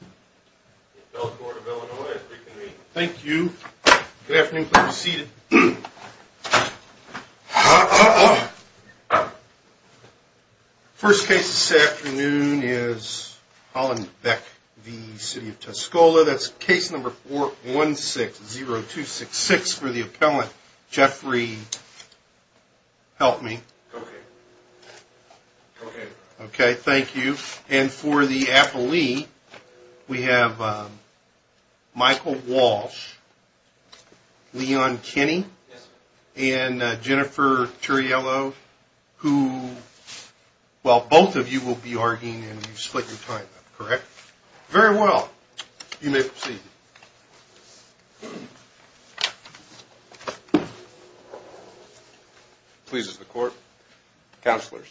The appellate court of Illinois is briefing me. Thank you. Good afternoon. Please be seated. First case this afternoon is Hollenbeck v. City of Tuscola. That's case number 4160266 for the appellant Jeffrey... Help me. Okay. Okay. Okay. Thank you. And for the appellee, we have Michael Walsh, Leon Kinney, and Jennifer Turiello, who... Well, both of you will be arguing, and you've split your time up, correct? Very well. You may proceed. Please, as the court... Counselors,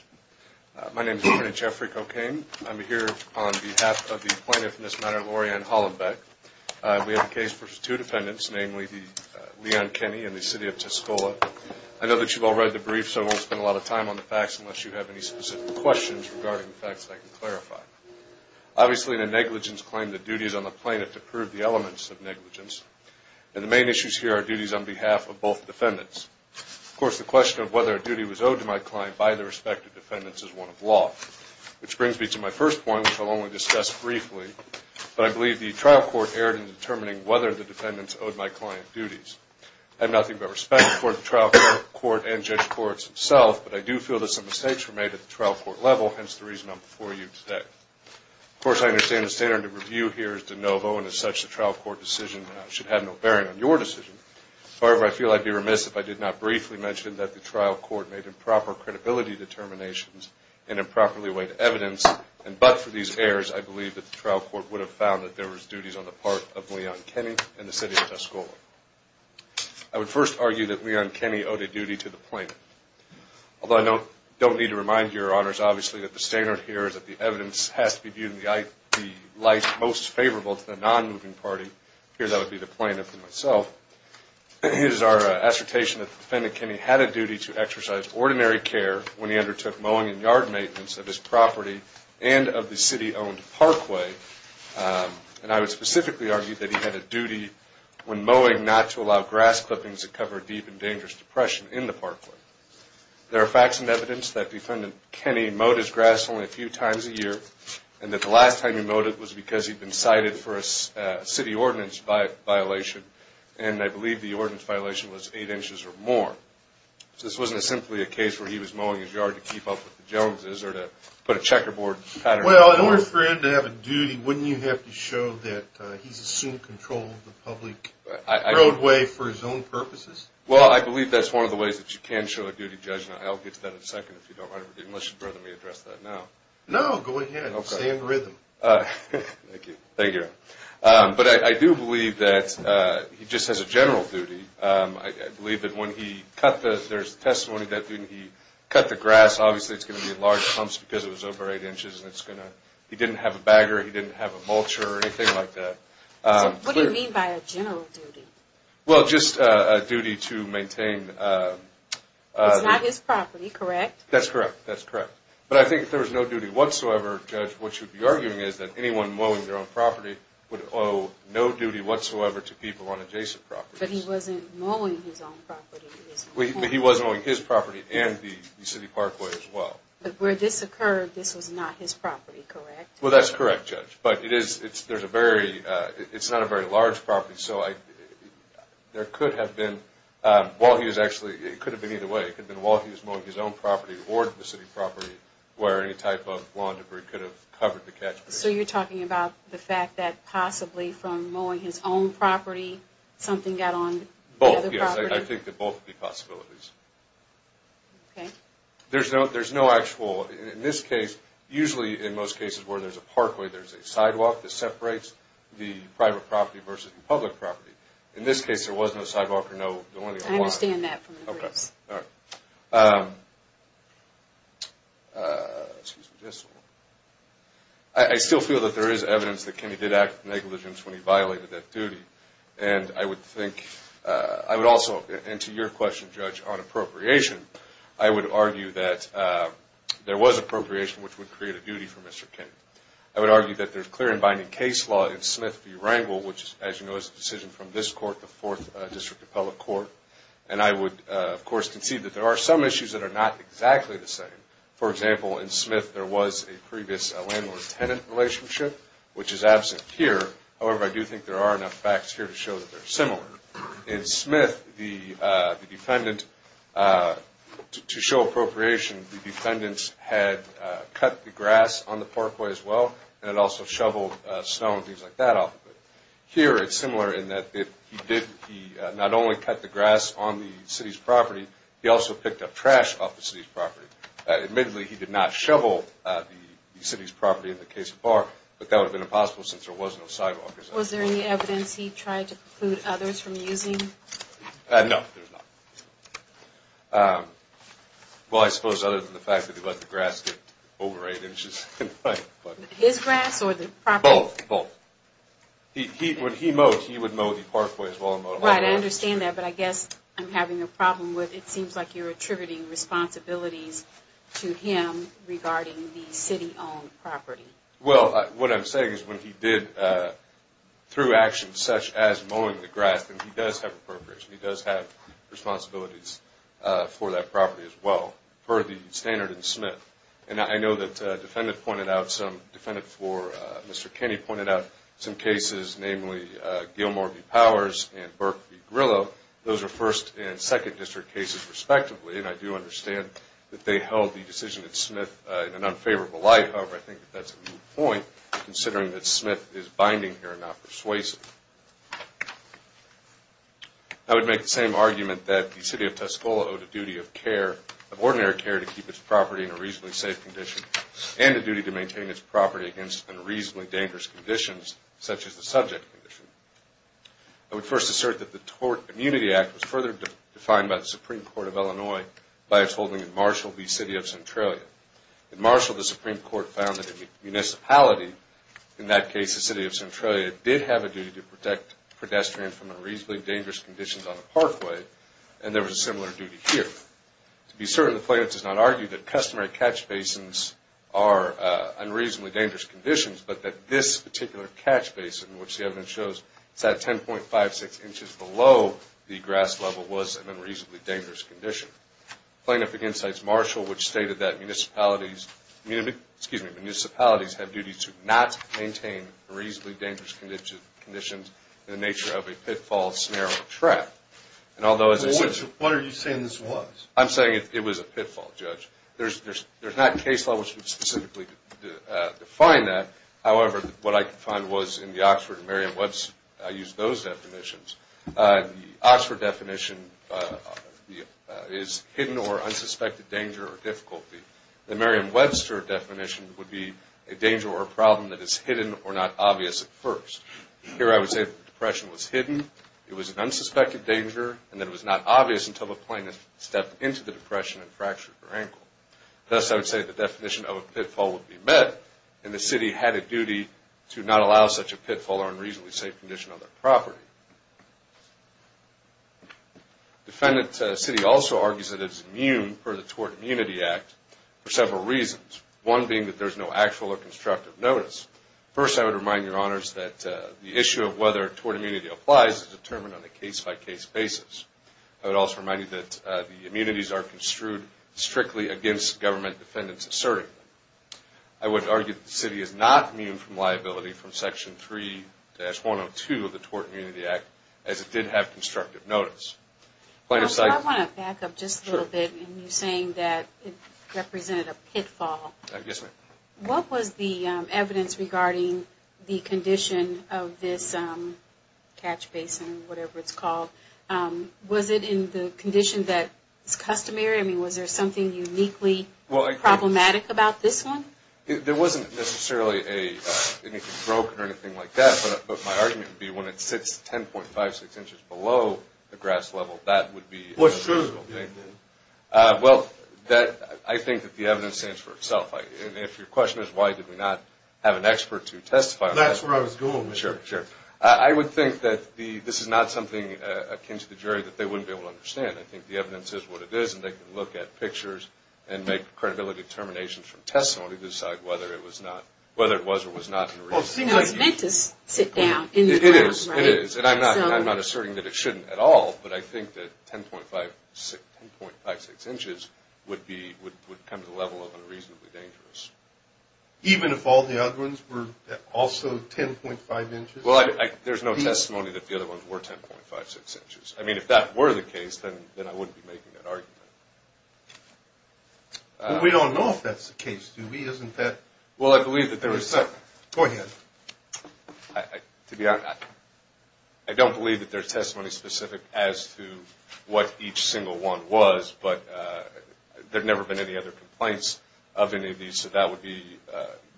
my name is Attorney Jeffrey Cocaine. I'm here on behalf of the plaintiff in this matter, Laurie Ann Hollenbeck. We have a case for two defendants, namely Leon Kinney and the City of Tuscola. I know that you've all read the brief, so I won't spend a lot of time on the facts unless you have any specific questions regarding the facts that I can clarify. Obviously, in a negligence claim, the duty is on the plaintiff to prove the elements of negligence, and the main issues here are duties on behalf of both defendants. Of course, the question of whether a duty was owed to my client by the respective defendants is one of law, which brings me to my first point, which I'll only discuss briefly, but I believe the trial court erred in determining whether the defendants owed my client duties. I have nothing but respect for the trial court and judge courts themselves, but I do feel that some mistakes were made at the trial court level, hence the reason I'm before you today. Of course, I understand the standard of review here is de novo, and as such, the trial court decision should have no bearing on your decision. However, I feel I'd be remiss if I did not briefly mention that the trial court made improper credibility determinations and improperly weighed evidence, and but for these errors, I believe that the trial court would have found that there was duties on the part of Leon Kinney and the City of Tuscola. I would first argue that Leon Kinney owed a duty to the plaintiff, although I don't need to remind your honors, obviously, that the standard here is that the evidence has to be viewed in the light most favorable to the non-moving party. Here, that would be the plaintiff and myself. Here's our assertation that the defendant, Kinney, had a duty to exercise ordinary care when he undertook mowing and yard maintenance of his property and of the city-owned parkway, and I would specifically argue that he had a duty when mowing not to allow grass clippings to cover deep and dangerous depression in the parkway. There are facts and evidence that defendant Kinney mowed his grass only a few times a year, and that the last time he mowed it was because he'd been cited for a city ordinance violation, and I believe the ordinance violation was eight inches or more. So this wasn't simply a case where he was mowing his yard to keep up with the Joneses or to put a checkerboard pattern. Well, in order for him to have a duty, wouldn't you have to show that he's assumed control of the public roadway for his own purposes? Well, I believe that's one of the ways that you can show a duty judgment. I'll get to that in a second if you don't mind, unless you'd rather me address that now. No, go ahead. Stay in rhythm. Thank you. Thank you. But I do believe that he just has a general duty. I believe that when he cut the – there's testimony that when he cut the grass, obviously it's going to be in large clumps because it was over eight inches, and it's going to – he didn't have a bagger, he didn't have a mulcher or anything like that. What do you mean by a general duty? Well, just a duty to maintain – It's not his property, correct? That's correct. That's correct. But I think if there was no duty whatsoever, Judge, what you'd be arguing is that anyone mowing their own property would owe no duty whatsoever to people on adjacent properties. But he wasn't mowing his own property. But he was mowing his property and the city parkway as well. But where this occurred, this was not his property, correct? Well, that's correct, Judge. But it is – there's a very – it's not a very large property, so there could have been – while he was actually – it could have been either way. It could have been while he was mowing his own property or the city property where any type of lawn debris could have covered the catchment. So you're talking about the fact that possibly from mowing his own property, something got on the other property? Yes, I think that both would be possibilities. Okay. There's no actual – in this case, usually in most cases where there's a parkway, there's a sidewalk that separates the private property versus the public property. In this case, there was no sidewalk or no – I understand that from the briefs. Okay. All right. I still feel that there is evidence that Kenny did act with negligence when he violated that duty. And I would think – I would also – and to your question, Judge, on appropriation, I would argue that there was appropriation which would create a duty for Mr. King. I would argue that there's clear and binding case law in Smith v. Rangel, which, as you know, is a decision from this court, the Fourth District Appellate Court. And I would, of course, concede that there are some issues that are not exactly the same. For example, in Smith there was a previous landlord-tenant relationship, which is absent here. However, I do think there are enough facts here to show that they're similar. In Smith, the defendant – to show appropriation, the defendants had cut the grass on the parkway as well and had also shoveled snow and things like that off of it. Here it's similar in that he did – he not only cut the grass on the city's property, he also picked up trash off the city's property. Admittedly, he did not shovel the city's property in the case of Barr, but that would have been impossible since there was no sidewalk. Was there any evidence he tried to preclude others from using? No, there was not. Well, I suppose other than the fact that he let the grass get over 8 inches in height. His grass or the property? Both, both. When he mowed, he would mow the parkway as well and mow the grass. Right, I understand that, but I guess I'm having a problem with – it seems like you're attributing responsibilities to him regarding the city-owned property. Well, what I'm saying is when he did, through action such as mowing the grass, then he does have appropriation. He does have responsibilities for that property as well, for the standard in Smith. And I know that a defendant pointed out some – a defendant for Mr. Kenny pointed out some cases, namely Gilmore v. Powers and Burke v. Grillo. Those are first and second district cases respectively, and I do understand that they held the decision in Smith in an unfavorable light. However, I think that that's a good point, considering that Smith is binding here and not persuasive. I would make the same argument that the city of Tuscola owed a duty of care, of ordinary care to keep its property in a reasonably safe condition and a duty to maintain its property against unreasonably dangerous conditions, such as the subject condition. I would first assert that the Tort Immunity Act was further defined by the Supreme Court of Illinois by its holding in Marshall v. City of Centralia. In Marshall, the Supreme Court found that the municipality, in that case the city of Centralia, did have a duty to protect pedestrians from unreasonably dangerous conditions on a parkway, and there was a similar duty here. To be certain, the plaintiff does not argue that customary catch basins are unreasonably dangerous conditions, but that this particular catch basin, which the evidence shows sat 10.56 inches below the grass level, was an unreasonably dangerous condition. Plaintiff against sites Marshall, which stated that municipalities have duties to not maintain unreasonably dangerous conditions in the nature of a pitfall, snare, or trap. What are you saying this was? I'm saying it was a pitfall, Judge. There's not case law which would specifically define that. However, what I could find was in the Oxford and Merriam-Webster, I used those definitions. The Oxford definition is hidden or unsuspected danger or difficulty. The Merriam-Webster definition would be a danger or a problem that is hidden or not obvious at first. Here I would say the depression was hidden, it was an unsuspected danger, and that it was not obvious until the plaintiff stepped into the depression and fractured her ankle. Thus, I would say the definition of a pitfall would be met, and the city had a duty to not allow such a pitfall or unreasonably safe condition on their property. Defendant city also argues that it is immune per the Tort Immunity Act for several reasons, one being that there's no actual or constructive notice. First, I would remind your honors that the issue of whether tort immunity applies is determined on a case-by-case basis. I would also remind you that the immunities are construed strictly against government defendants asserting them. I would argue that the city is not immune from liability from Section 3-102 of the Tort Immunity Act as it did have constructive notice. I want to back up just a little bit in saying that it represented a pitfall. Yes, ma'am. What was the evidence regarding the condition of this catch basin, whatever it's called? Was it in the condition that is customary? I mean, was there something uniquely problematic about this one? There wasn't necessarily anything broken or anything like that, but my argument would be when it sits 10.56 inches below the grass level, that would be unusual. What's true? Well, I think that the evidence stands for itself. And if your question is why did we not have an expert to testify on that? That's where I was going with you. Sure, sure. I would think that this is not something akin to the jury that they wouldn't be able to understand. I think the evidence is what it is, and they can look at pictures and make credibility determinations from testimony to decide whether it was or was not an unreasonable use. Well, you know, it's meant to sit down in the ground, right? It is. It is. And I'm not asserting that it shouldn't at all, but I think that 10.56 inches would come to the level of unreasonably dangerous. Even if all the other ones were also 10.5 inches? Well, there's no testimony that the other ones were 10.56 inches. I mean, if that were the case, then I wouldn't be making that argument. Well, we don't know if that's the case, do we? Isn't that? Well, I believe that there is. Go ahead. To be honest, I don't believe that there's testimony specific as to what each single one was, but there have never been any other complaints of any of these, so that would be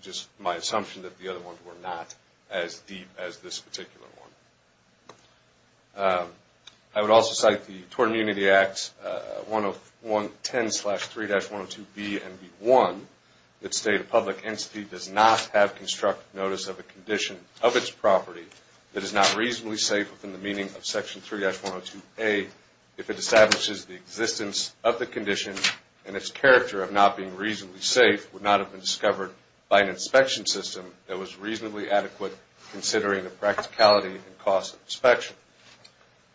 just my assumption that the other ones were not as deep as this particular one. I would also cite the Tort Immunity Act 110-3-102B and 1, that state a public entity does not have constructive notice of a condition of its property that is not reasonably safe within the meaning of Section 3-102A if it establishes the existence of the condition and its character of not being reasonably safe would not have been discovered by an inspection system that was reasonably adequate considering the practicality and cost of inspection.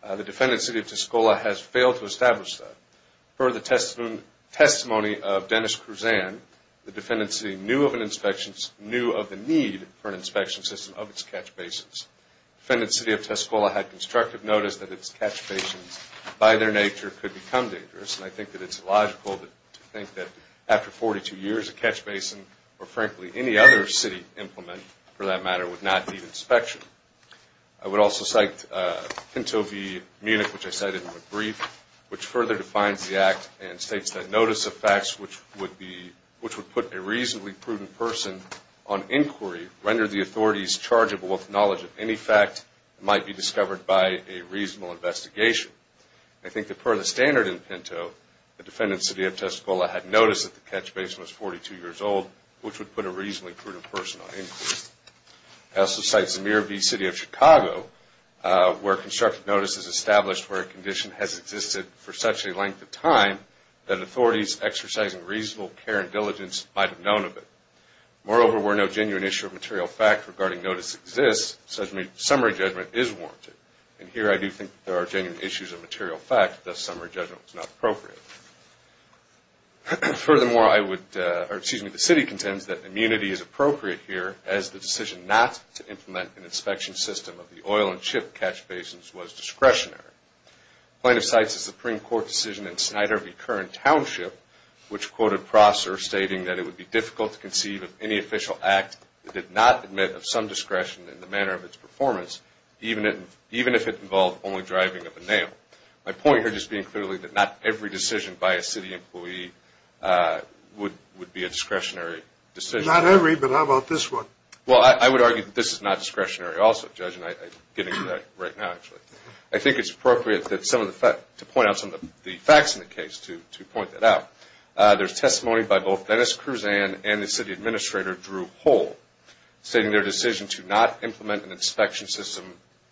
The defendant's city of Tuscola has failed to establish that. Per the testimony of Dennis Cruzan, the defendant's city knew of the need for an inspection system of its catch bases. The defendant's city of Tuscola had constructive notice that its catch bases, by their nature, could become dangerous, and I think that it's logical to think that after 42 years, a catch basin or, frankly, any other city implement, for that matter, would not need inspection. I would also cite Pinto v. Munich, which I cited in the brief, which further defines the Act and states that notice of facts which would put a reasonably prudent person on inquiry rendered the authorities chargeable with knowledge of any fact that might be discovered by a reasonable investigation. I think that, per the standard in Pinto, the defendant's city of Tuscola had notice that the catch basin was 42 years old, which would put a reasonably prudent person on inquiry. I also cite Zemir v. City of Chicago, where constructive notice is established where a condition has existed for such a length of time that authorities exercising reasonable care and diligence might have known of it. Moreover, where no genuine issue of material fact regarding notice exists, summary judgment is warranted. And here I do think there are genuine issues of material fact, thus summary judgment is not appropriate. Furthermore, I would, or excuse me, the city contends that immunity is appropriate here as the decision not to implement an inspection system of the oil and ship catch basins was discretionary. Plaintiff cites a Supreme Court decision in Snyder v. Curran Township, which quoted Prosser stating that it would be difficult to conceive of any official act that did not admit of some discretion in the manner of its performance, even if it involved only driving of a nail. My point here just being clearly that not every decision by a city employee would be a discretionary decision. Not every, but how about this one? Well, I would argue that this is not discretionary also, Judge, and I'm getting to that right now actually. I think it's appropriate to point out some of the facts in the case to point that out. There's testimony by both Dennis Kruzan and the city administrator, Drew Hull, stating their decision to not implement an inspection system.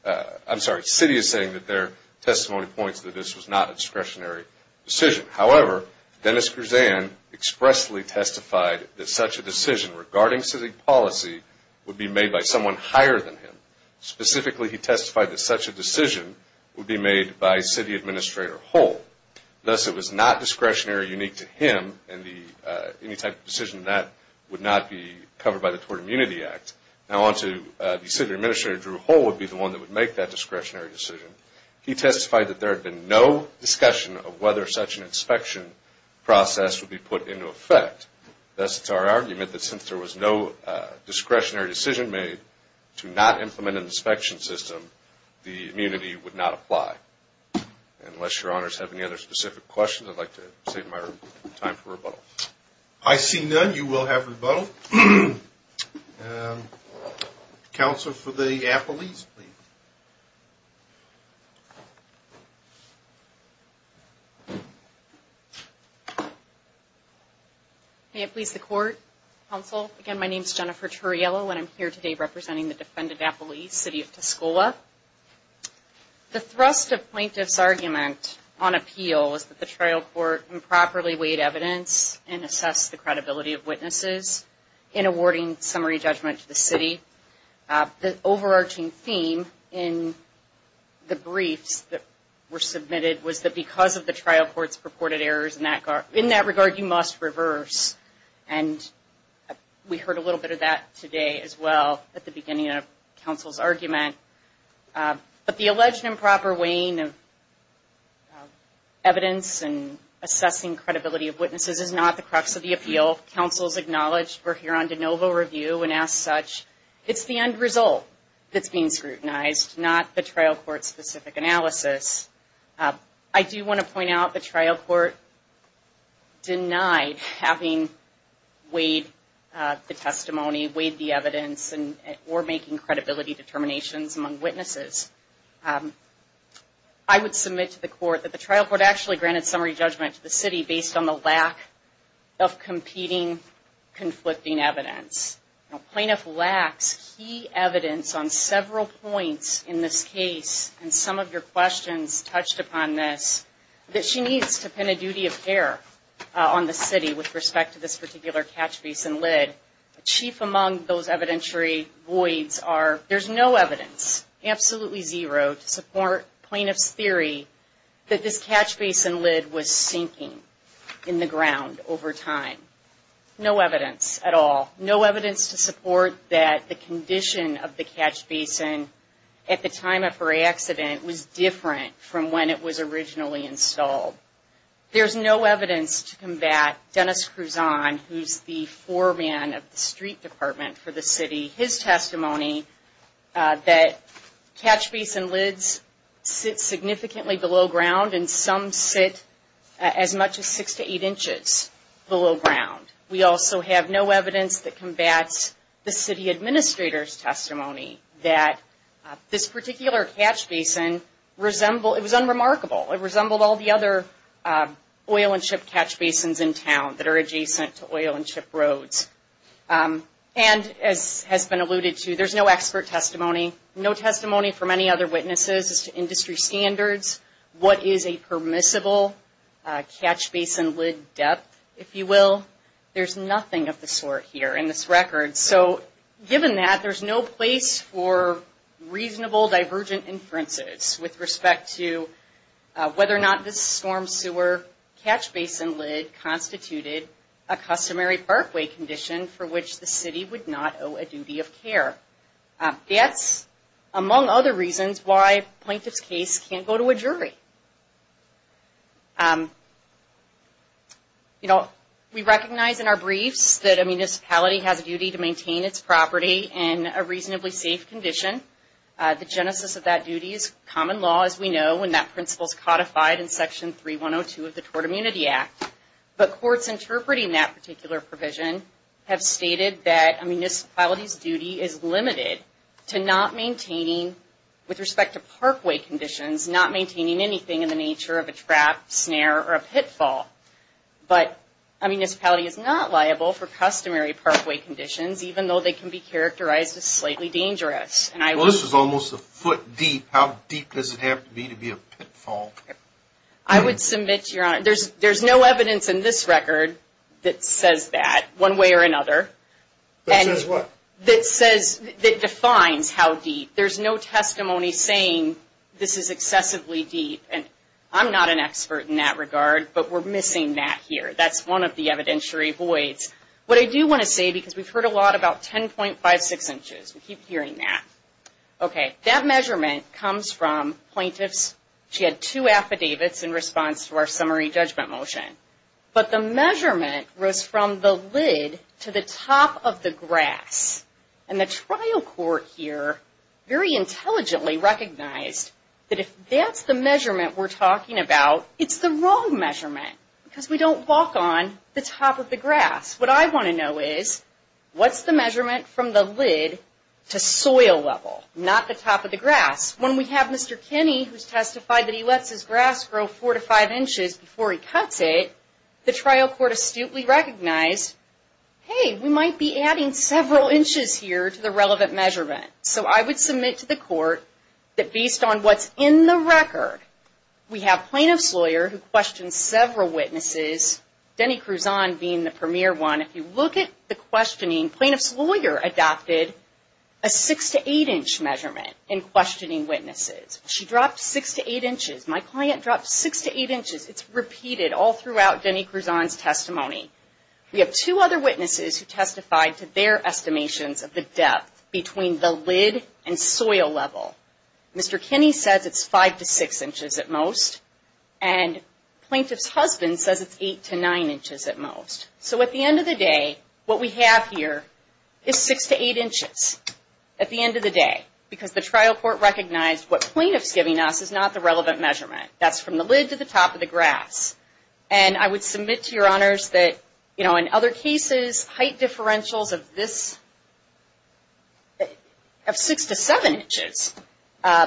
I'm sorry, the city is saying that their testimony points that this was not a discretionary decision. However, Dennis Kruzan expressly testified that such a decision regarding city policy would be made by someone higher than him. Specifically, he testified that such a decision would be made by city administrator Hull. Thus, it was not discretionary or unique to him, and any type of decision of that would not be covered by the Tort Immunity Act. Now, on to the city administrator, Drew Hull, would be the one that would make that discretionary decision. He testified that there had been no discussion of whether such an inspection process would be put into effect. Thus, it's our argument that since there was no discretionary decision made to not implement an inspection system, the immunity would not apply. Unless your honors have any other specific questions, I'd like to save my time for rebuttal. I see none. You will have rebuttal. Counsel for the Appelese, please. May it please the court, counsel. Again, my name is Jennifer Turriello, and I'm here today representing the defendant Appelese, city of Tuscola. The thrust of plaintiff's argument on appeal is that the trial court improperly weighed evidence and assessed the credibility of witnesses in awarding summary judgment to the city. The overarching theme in the briefs that were submitted was that because of the trial court's purported errors in that regard, you must reverse, and we heard a little bit of that today as well at the beginning of counsel's argument. But the alleged improper weighing of evidence and assessing credibility of witnesses is not the crux of the appeal. Counsel has acknowledged we're here on de novo review, and as such, it's the end result that's being scrutinized, not the trial court-specific analysis. I do want to point out the trial court denied having weighed the testimony, weighed the evidence, or making credibility determinations among witnesses. I would submit to the court that the trial court actually granted summary judgment to the city based on the lack of competing, conflicting evidence. Now, plaintiff lacks key evidence on several points in this case, and some of your questions touched upon this, that she needs to pin a duty of care on the city with respect to this particular catch-basin lid. The chief among those evidentiary voids are there's no evidence, absolutely zero, to support plaintiff's theory that this catch-basin lid was sinking in the ground over time. No evidence at all. No evidence to support that the condition of the catch-basin at the time of her accident was different from when it was originally installed. There's no evidence to combat Dennis Cruzon, who's the foreman of the street department for the city, his testimony that catch-basin lids sit significantly below ground and some sit as much as six to eight inches below ground. We also have no evidence that combats the city administrator's testimony that this particular catch-basin resembled, it was unremarkable, it resembled all the other oil and ship catch-basins in town that are adjacent to oil and ship roads. And as has been alluded to, there's no expert testimony, no testimony from any other witnesses as to industry standards, what is a permissible catch-basin lid depth, if you will. There's nothing of the sort here in this record. So given that, there's no place for reasonable divergent inferences with respect to whether or not this storm sewer catch-basin lid constituted a customary parkway condition for which the city would not owe a duty of care. That's, among other reasons, why a plaintiff's case can't go to a jury. You know, we recognize in our briefs that a municipality has a duty to maintain its property in a reasonably safe condition. The genesis of that duty is common law, as we know, and that principle is codified in Section 3102 of the Tort Immunity Act. But courts interpreting that particular provision have stated that a municipality's duty is limited to not maintaining, with respect to parkway conditions, not maintaining anything in the nature of a trap, snare, or a pitfall. But a municipality is not liable for customary parkway conditions, even though they can be characterized as slightly dangerous. Well, this is almost a foot deep. How deep does it have to be to be a pitfall? I would submit, Your Honor, there's no evidence in this record that says that, one way or another. That says what? That says, that defines how deep. There's no testimony saying this is excessively deep. And I'm not an expert in that regard, but we're missing that here. That's one of the evidentiary voids. What I do want to say, because we've heard a lot about 10.56 inches. We keep hearing that. Okay, that measurement comes from plaintiffs. She had two affidavits in response to our summary judgment motion. But the measurement was from the lid to the top of the grass. And the trial court here very intelligently recognized that if that's the measurement we're talking about, it's the wrong measurement, because we don't walk on the top of the grass. What I want to know is, what's the measurement from the lid to soil level, not the top of the grass? When we have Mr. Kinney, who's testified that he lets his grass grow four to five inches before he cuts it, the trial court astutely recognized, hey, we might be adding several inches here to the relevant measurement. So I would submit to the court that based on what's in the record, we have plaintiff's lawyer who questioned several witnesses, Denny Cruzon being the premier one. If you look at the questioning, plaintiff's lawyer adopted a six to eight inch measurement in questioning witnesses. She dropped six to eight inches. My client dropped six to eight inches. We have two other witnesses who testified to their estimations of the depth between the lid and soil level. Mr. Kinney says it's five to six inches at most, and plaintiff's husband says it's eight to nine inches at most. So at the end of the day, what we have here is six to eight inches at the end of the day, because the trial court recognized what plaintiff's giving us is not the relevant measurement. That's from the lid to the top of the grass. And I would submit to your honors that, you know, in other cases, height differentials of this, of six to seven inches,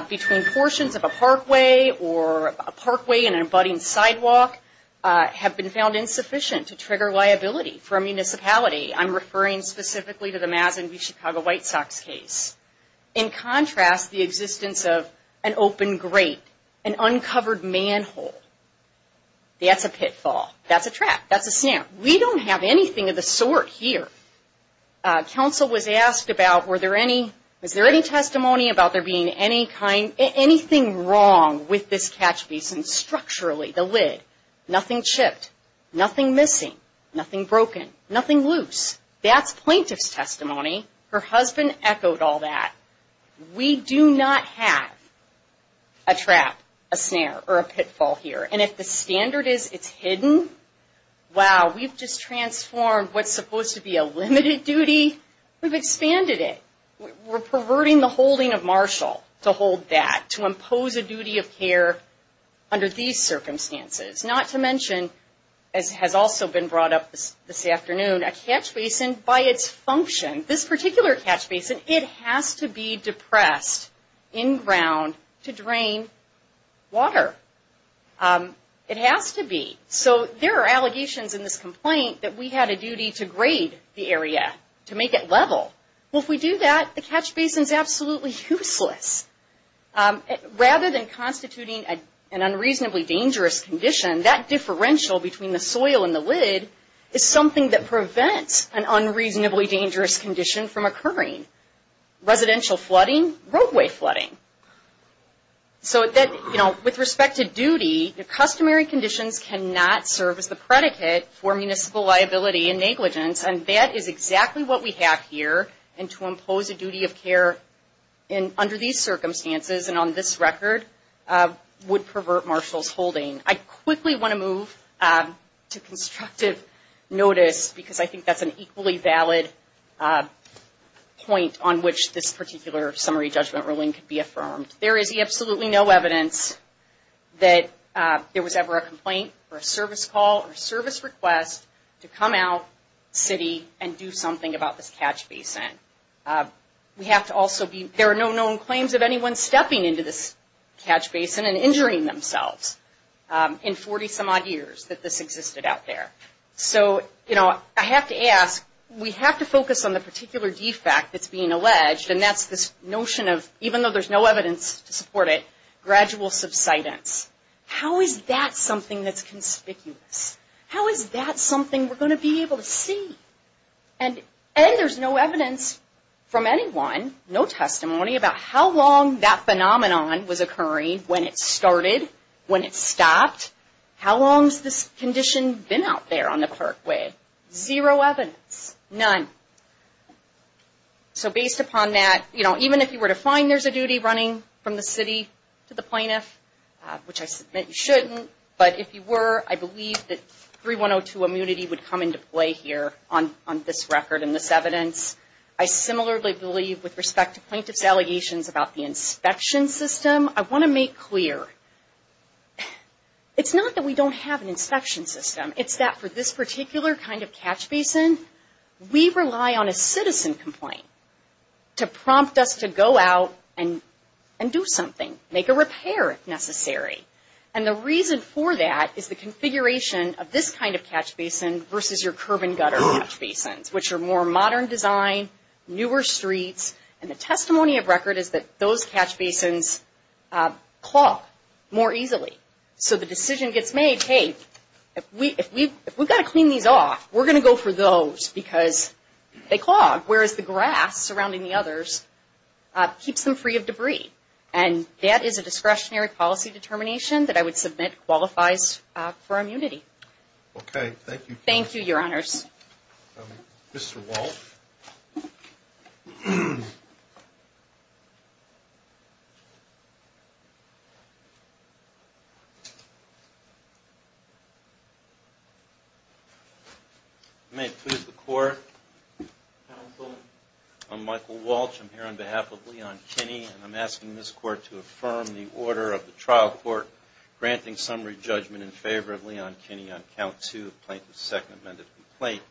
between portions of a parkway or a parkway and an abutting sidewalk, have been found insufficient to trigger liability for a municipality. I'm referring specifically to the Mazen v. Chicago White Sox case. In contrast, the existence of an open grate, an uncovered manhole. That's a pitfall. That's a trap. That's a snap. We don't have anything of the sort here. Counsel was asked about were there any, was there any testimony about there being any kind, anything wrong with this catch basin structurally, the lid. Nothing chipped, nothing missing, nothing broken, nothing loose. That's plaintiff's testimony. Her husband echoed all that. We do not have a trap, a snare, or a pitfall here. And if the standard is it's hidden, wow, we've just transformed what's supposed to be a limited duty. We've expanded it. We're perverting the holding of Marshall to hold that, to impose a duty of care under these circumstances. Not to mention, as has also been brought up this afternoon, a catch basin by its function. This particular catch basin, it has to be depressed in ground to drain water. It has to be. So there are allegations in this complaint that we had a duty to grade the area, to make it level. Well, if we do that, the catch basin is absolutely useless. Rather than constituting an unreasonably dangerous condition, that differential between the soil and the lid is something that prevents an unreasonably dangerous condition from occurring. Residential flooding, roadway flooding. So with respect to duty, the customary conditions cannot serve as the predicate for municipal liability and negligence. And that is exactly what we have here. And to impose a duty of care under these circumstances and on this record would pervert Marshall's holding. I quickly want to move to constructive notice because I think that's an equally valid point on which this particular summary judgment ruling can be affirmed. There is absolutely no evidence that there was ever a complaint or a service call or service request to come out city and do something about this catch basin. We have to also be, there are no known claims of anyone stepping into this catch basin and injuring themselves in 40 some odd years that this existed out there. So, you know, I have to ask, we have to focus on the particular defect that's being alleged. And that's this notion of, even though there's no evidence to support it, gradual subsidence. How is that something that's conspicuous? How is that something we're going to be able to see? And there's no evidence from anyone, no testimony about how long that phenomenon was occurring, when it started, when it stopped. How long has this condition been out there on the Parkway? Zero evidence. None. So based upon that, you know, even if you were to find there's a duty running from the city to the plaintiff, which I submit you shouldn't, but if you were, I believe that 3102 immunity would come into play here on this record and this evidence. I similarly believe with respect to plaintiff's allegations about the inspection system. I want to make clear, it's not that we don't have an inspection system. It's that for this particular kind of catch basin, we rely on a citizen complaint to prompt us to go out and do something, make a repair if necessary. And the reason for that is the configuration of this kind of catch basin versus your curb and gutter catch basins, which are more modern design, newer streets, and the testimony of record is that those catch basins clog more easily. So the decision gets made, hey, if we've got to clean these off, we're going to go for those because they clog, whereas the grass surrounding the others keeps them free of debris. And that is a discretionary policy determination that I would submit qualifies for immunity. Okay. Thank you. Thank you, Your Honors. Mr. Walsh. May it please the Court. Counsel. I'm Michael Walsh. I'm here on behalf of Leon Kinney. And I'm asking this Court to affirm the order of the trial court granting summary judgment in favor of Leon Kinney on count two of plaintiff's second amended complaint.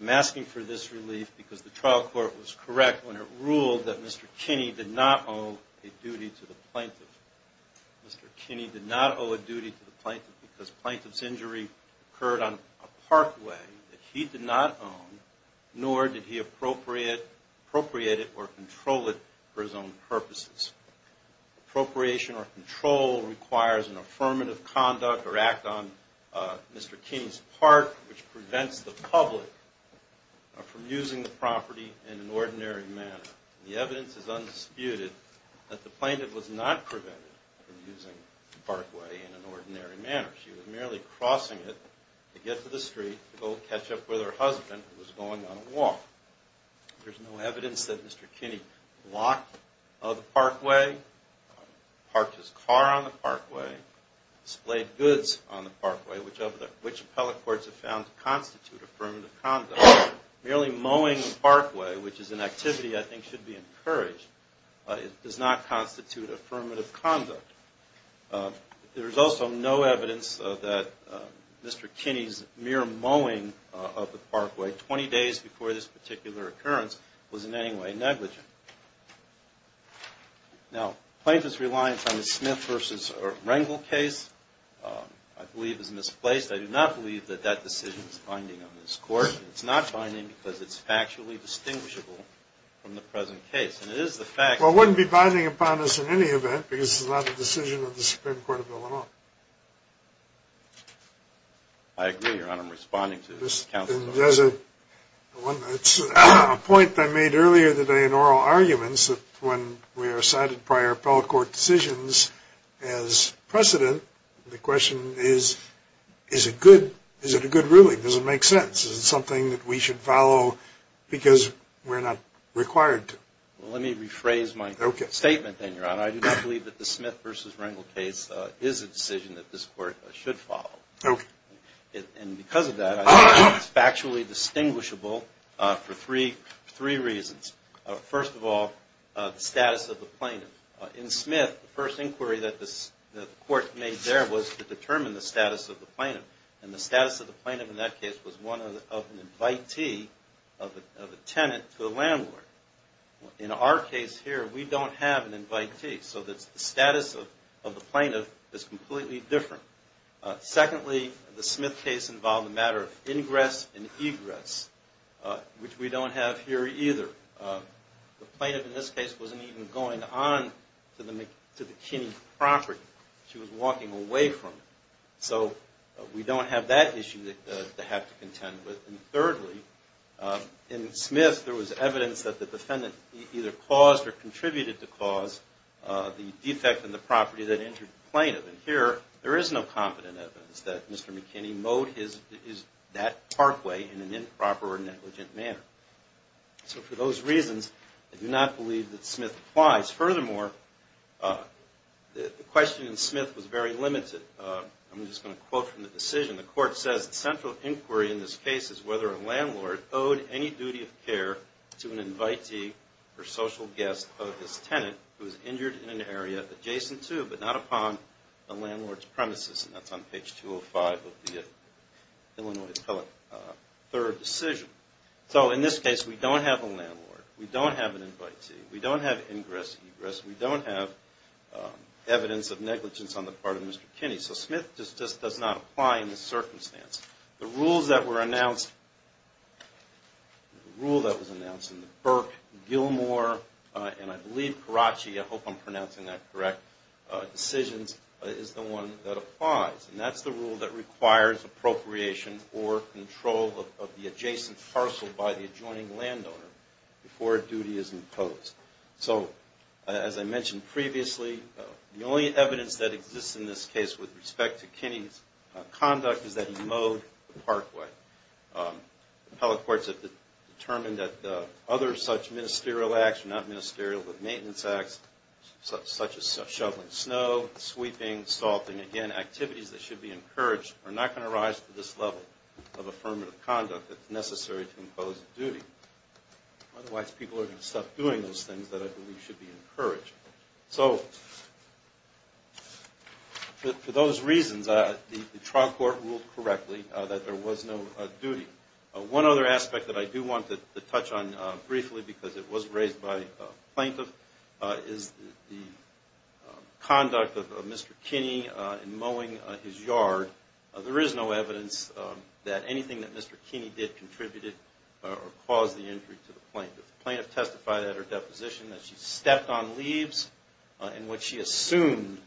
I'm asking for this relief because the trial court was correct when it ruled that Mr. Kinney did not owe a duty to the plaintiff. Mr. Kinney did not owe a duty to the plaintiff because plaintiff's injury occurred on a parkway that he did not own, nor did he appropriate it or control it for his own purposes. Appropriation or control requires an affirmative conduct or act on Mr. Kinney's park, which prevents the public from using the property in an ordinary manner. The evidence is undisputed that the plaintiff was not prevented from using the parkway in an ordinary manner. She was merely crossing it to get to the street to go catch up with her husband who was going on a walk. There's no evidence that Mr. Kinney blocked the parkway, parked his car on the parkway, displayed goods on the parkway, which appellate courts have found to constitute affirmative conduct. Merely mowing the parkway, which is an activity I think should be encouraged, does not constitute affirmative conduct. There is also no evidence that Mr. Kinney's mere mowing of the parkway 20 days before this particular occurrence was in any way negligent. Now, plaintiff's reliance on the Smith v. Rengel case I believe is misplaced. I do not believe that that decision is binding on this Court. It's not binding because it's factually distinguishable from the present case. Well, it wouldn't be binding upon us in any event because it's not a decision of the Supreme Court of Illinois. I agree, Your Honor. I'm responding to the counsel's question. There's a point that I made earlier today in oral arguments that when we are cited prior appellate court decisions as precedent, the question is, is it good? Is it a good ruling? Does it make sense? Is it something that we should follow because we're not required to? Well, let me rephrase my statement then, Your Honor. I do not believe that the Smith v. Rengel case is a decision that this Court should follow. And because of that, I think it's factually distinguishable for three reasons. First of all, the status of the plaintiff. In Smith, the first inquiry that the Court made there was to determine the status of the plaintiff. And the status of the plaintiff in that case was one of an invitee of a tenant to a landlord. In our case here, we don't have an invitee. So the status of the plaintiff is completely different. Secondly, the Smith case involved a matter of ingress and egress, which we don't have here either. The plaintiff in this case wasn't even going on to the Kinney property. She was walking away from it. So we don't have that issue to have to contend with. And thirdly, in Smith, there was evidence that the defendant either caused or contributed to cause the defect in the property that injured the plaintiff. And here, there is no competent evidence that Mr. McKinney mowed that parkway in an improper or negligent manner. So for those reasons, I do not believe that Smith applies. Furthermore, the question in Smith was very limited. I'm just going to quote from the decision. The Court says, the central inquiry in this case is whether a landlord owed any duty of care to an invitee or social guest of his tenant who was injured in an area adjacent to, but not upon, the landlord's premises. And that's on page 205 of the Illinois Appellate Third Decision. So in this case, we don't have a landlord. We don't have an invitee. We don't have ingress, egress. We don't have evidence of negligence on the part of Mr. Kinney. So Smith just does not apply in this circumstance. The rule that was announced in the Burke, Gilmore, and I believe Karachi, I hope I'm pronouncing that correct, decisions is the one that applies. And that's the rule that requires appropriation or control of the adjacent parcel by the adjoining landowner before a duty is imposed. So as I mentioned previously, the only evidence that exists in this case with respect to Kinney's conduct is that he mowed the parkway. Appellate courts have determined that other such ministerial acts, not ministerial, but maintenance acts, such as shoveling snow, sweeping, salting, again, activities that should be encouraged are not going to rise to this level of affirmative conduct that's necessary to impose a duty. Otherwise, people are going to stop doing those things that I believe should be encouraged. So for those reasons, the trial court ruled correctly that there was no duty. One other aspect that I do want to touch on briefly because it was raised by a plaintiff is the conduct of Mr. Kinney in mowing his yard. There is no evidence that anything that Mr. Kinney did contributed or caused the injury to the plaintiff. The plaintiff testified at her deposition that she stepped on leaves and what she assumed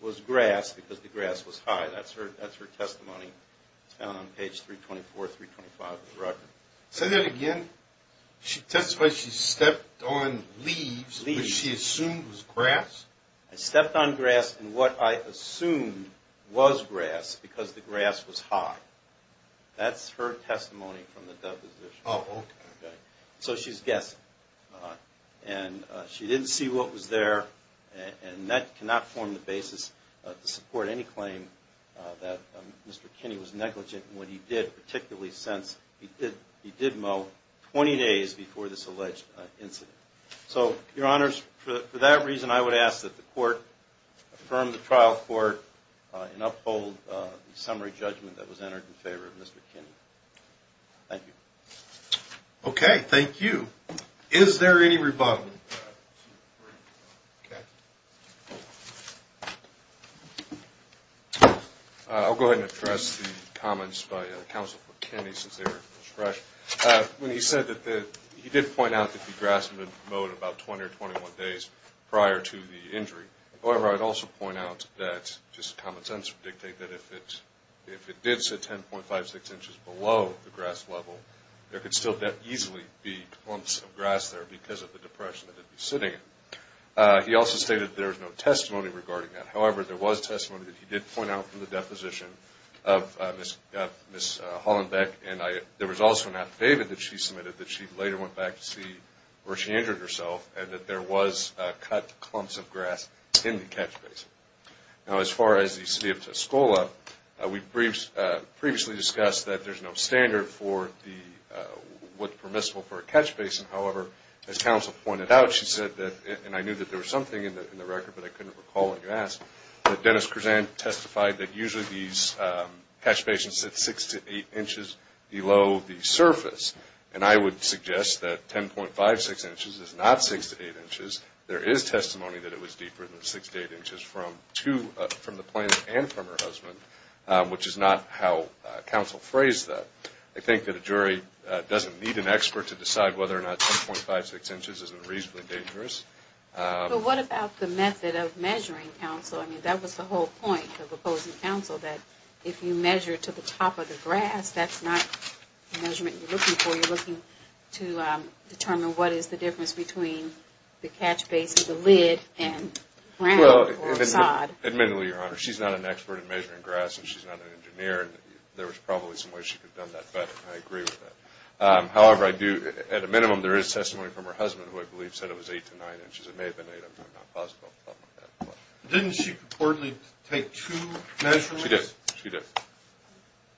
was grass because the grass was high. That's her testimony. It's found on page 324, 325 of the record. Say that again? She testified she stepped on leaves and what she assumed was grass? I stepped on grass and what I assumed was grass because the grass was high. That's her testimony from the deposition. So she's guessing. And she didn't see what was there and that cannot form the basis to support any claim that Mr. Kinney was negligent in what he did, particularly since he did mow 20 days before this alleged incident. So, Your Honors, for that reason, I would ask that the court affirm the trial court and uphold the summary judgment that was entered in favor of Mr. Kinney. Thank you. Okay. Thank you. Is there any rebuttal? I'll go ahead and address the comments by Counsel for Kinney since they were fresh. When he said that he did point out that he grasped the moat about 20 or 21 days prior to the injury. However, I'd also point out that just common sense would dictate that if it did sit 10.56 inches below the grass level, there could still easily be clumps of grass there because of the depression that it'd be sitting in. He also stated there was no testimony regarding that. However, there was testimony that he did point out from the deposition of Ms. Hollenbeck, and there was also an affidavit that she submitted that she later went back to see where she injured herself and that there was cut clumps of grass in the catch basin. Now, as far as the City of Tuscola, we previously discussed that there's no standard for what's permissible for a catch basin. However, as Counsel pointed out, she said that, and I knew that there was something in the record, but I couldn't recall what you asked, that Dennis Kersan testified that usually these catch basins sit 6 to 8 inches below the surface. And I would suggest that 10.56 inches is not 6 to 8 inches. There is testimony that it was deeper than 6 to 8 inches from the plant and from her husband, which is not how Counsel phrased that. I think that a jury doesn't need an expert to decide whether or not 10.56 inches isn't reasonably dangerous. But what about the method of measuring, Counsel? I mean, that was the whole point of opposing Counsel, that if you measure to the top of the grass, that's not the measurement you're looking for. You're looking to determine what is the difference between the catch basin, the lid, and ground or sod. Admittedly, Your Honor, she's not an expert in measuring grass, and she's not an engineer. There was probably some way she could have done that better, and I agree with that. However, at a minimum, there is testimony from her husband, who I believe said it was 8 to 9 inches. It may have been 8. I'm not positive about that. Didn't she reportedly take two measurements? She did. She did.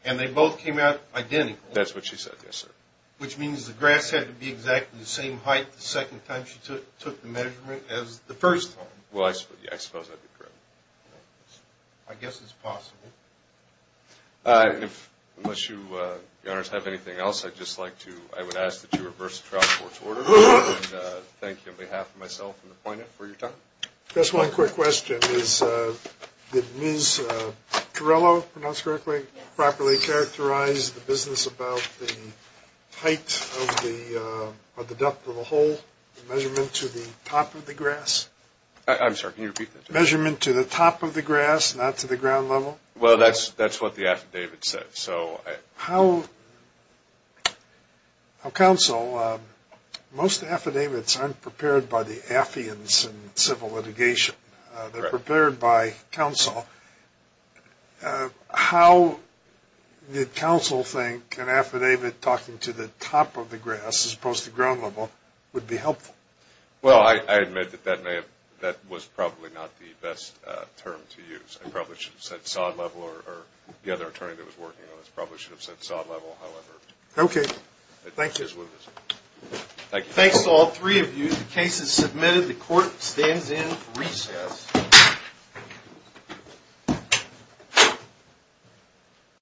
And they both came out identical? That's what she said, yes, sir. Which means the grass had to be exactly the same height the second time she took the measurement as the first time. Well, I suppose that would be correct. I guess it's possible. Unless you, Your Honors, have anything else, I would ask that you reverse the trial court's order. And thank you on behalf of myself and the plaintiff for your time. Just one quick question. Did Ms. Torello, if I pronounced correctly, properly characterize the business about the height of the duct of the hole, the measurement to the top of the grass? I'm sorry, can you repeat that? Measurement to the top of the grass, not to the ground level? Well, that's what the affidavit said. Counsel, most affidavits aren't prepared by the affiance in civil litigation. They're prepared by counsel. How did counsel think an affidavit talking to the top of the grass as opposed to ground level would be helpful? Well, I admit that that was probably not the best term to use. I probably should have said sod level or the other attorney that was working on this probably should have said sod level, however. Okay. Thank you. Thank you. Thanks to all three of you. The court stands in for recess.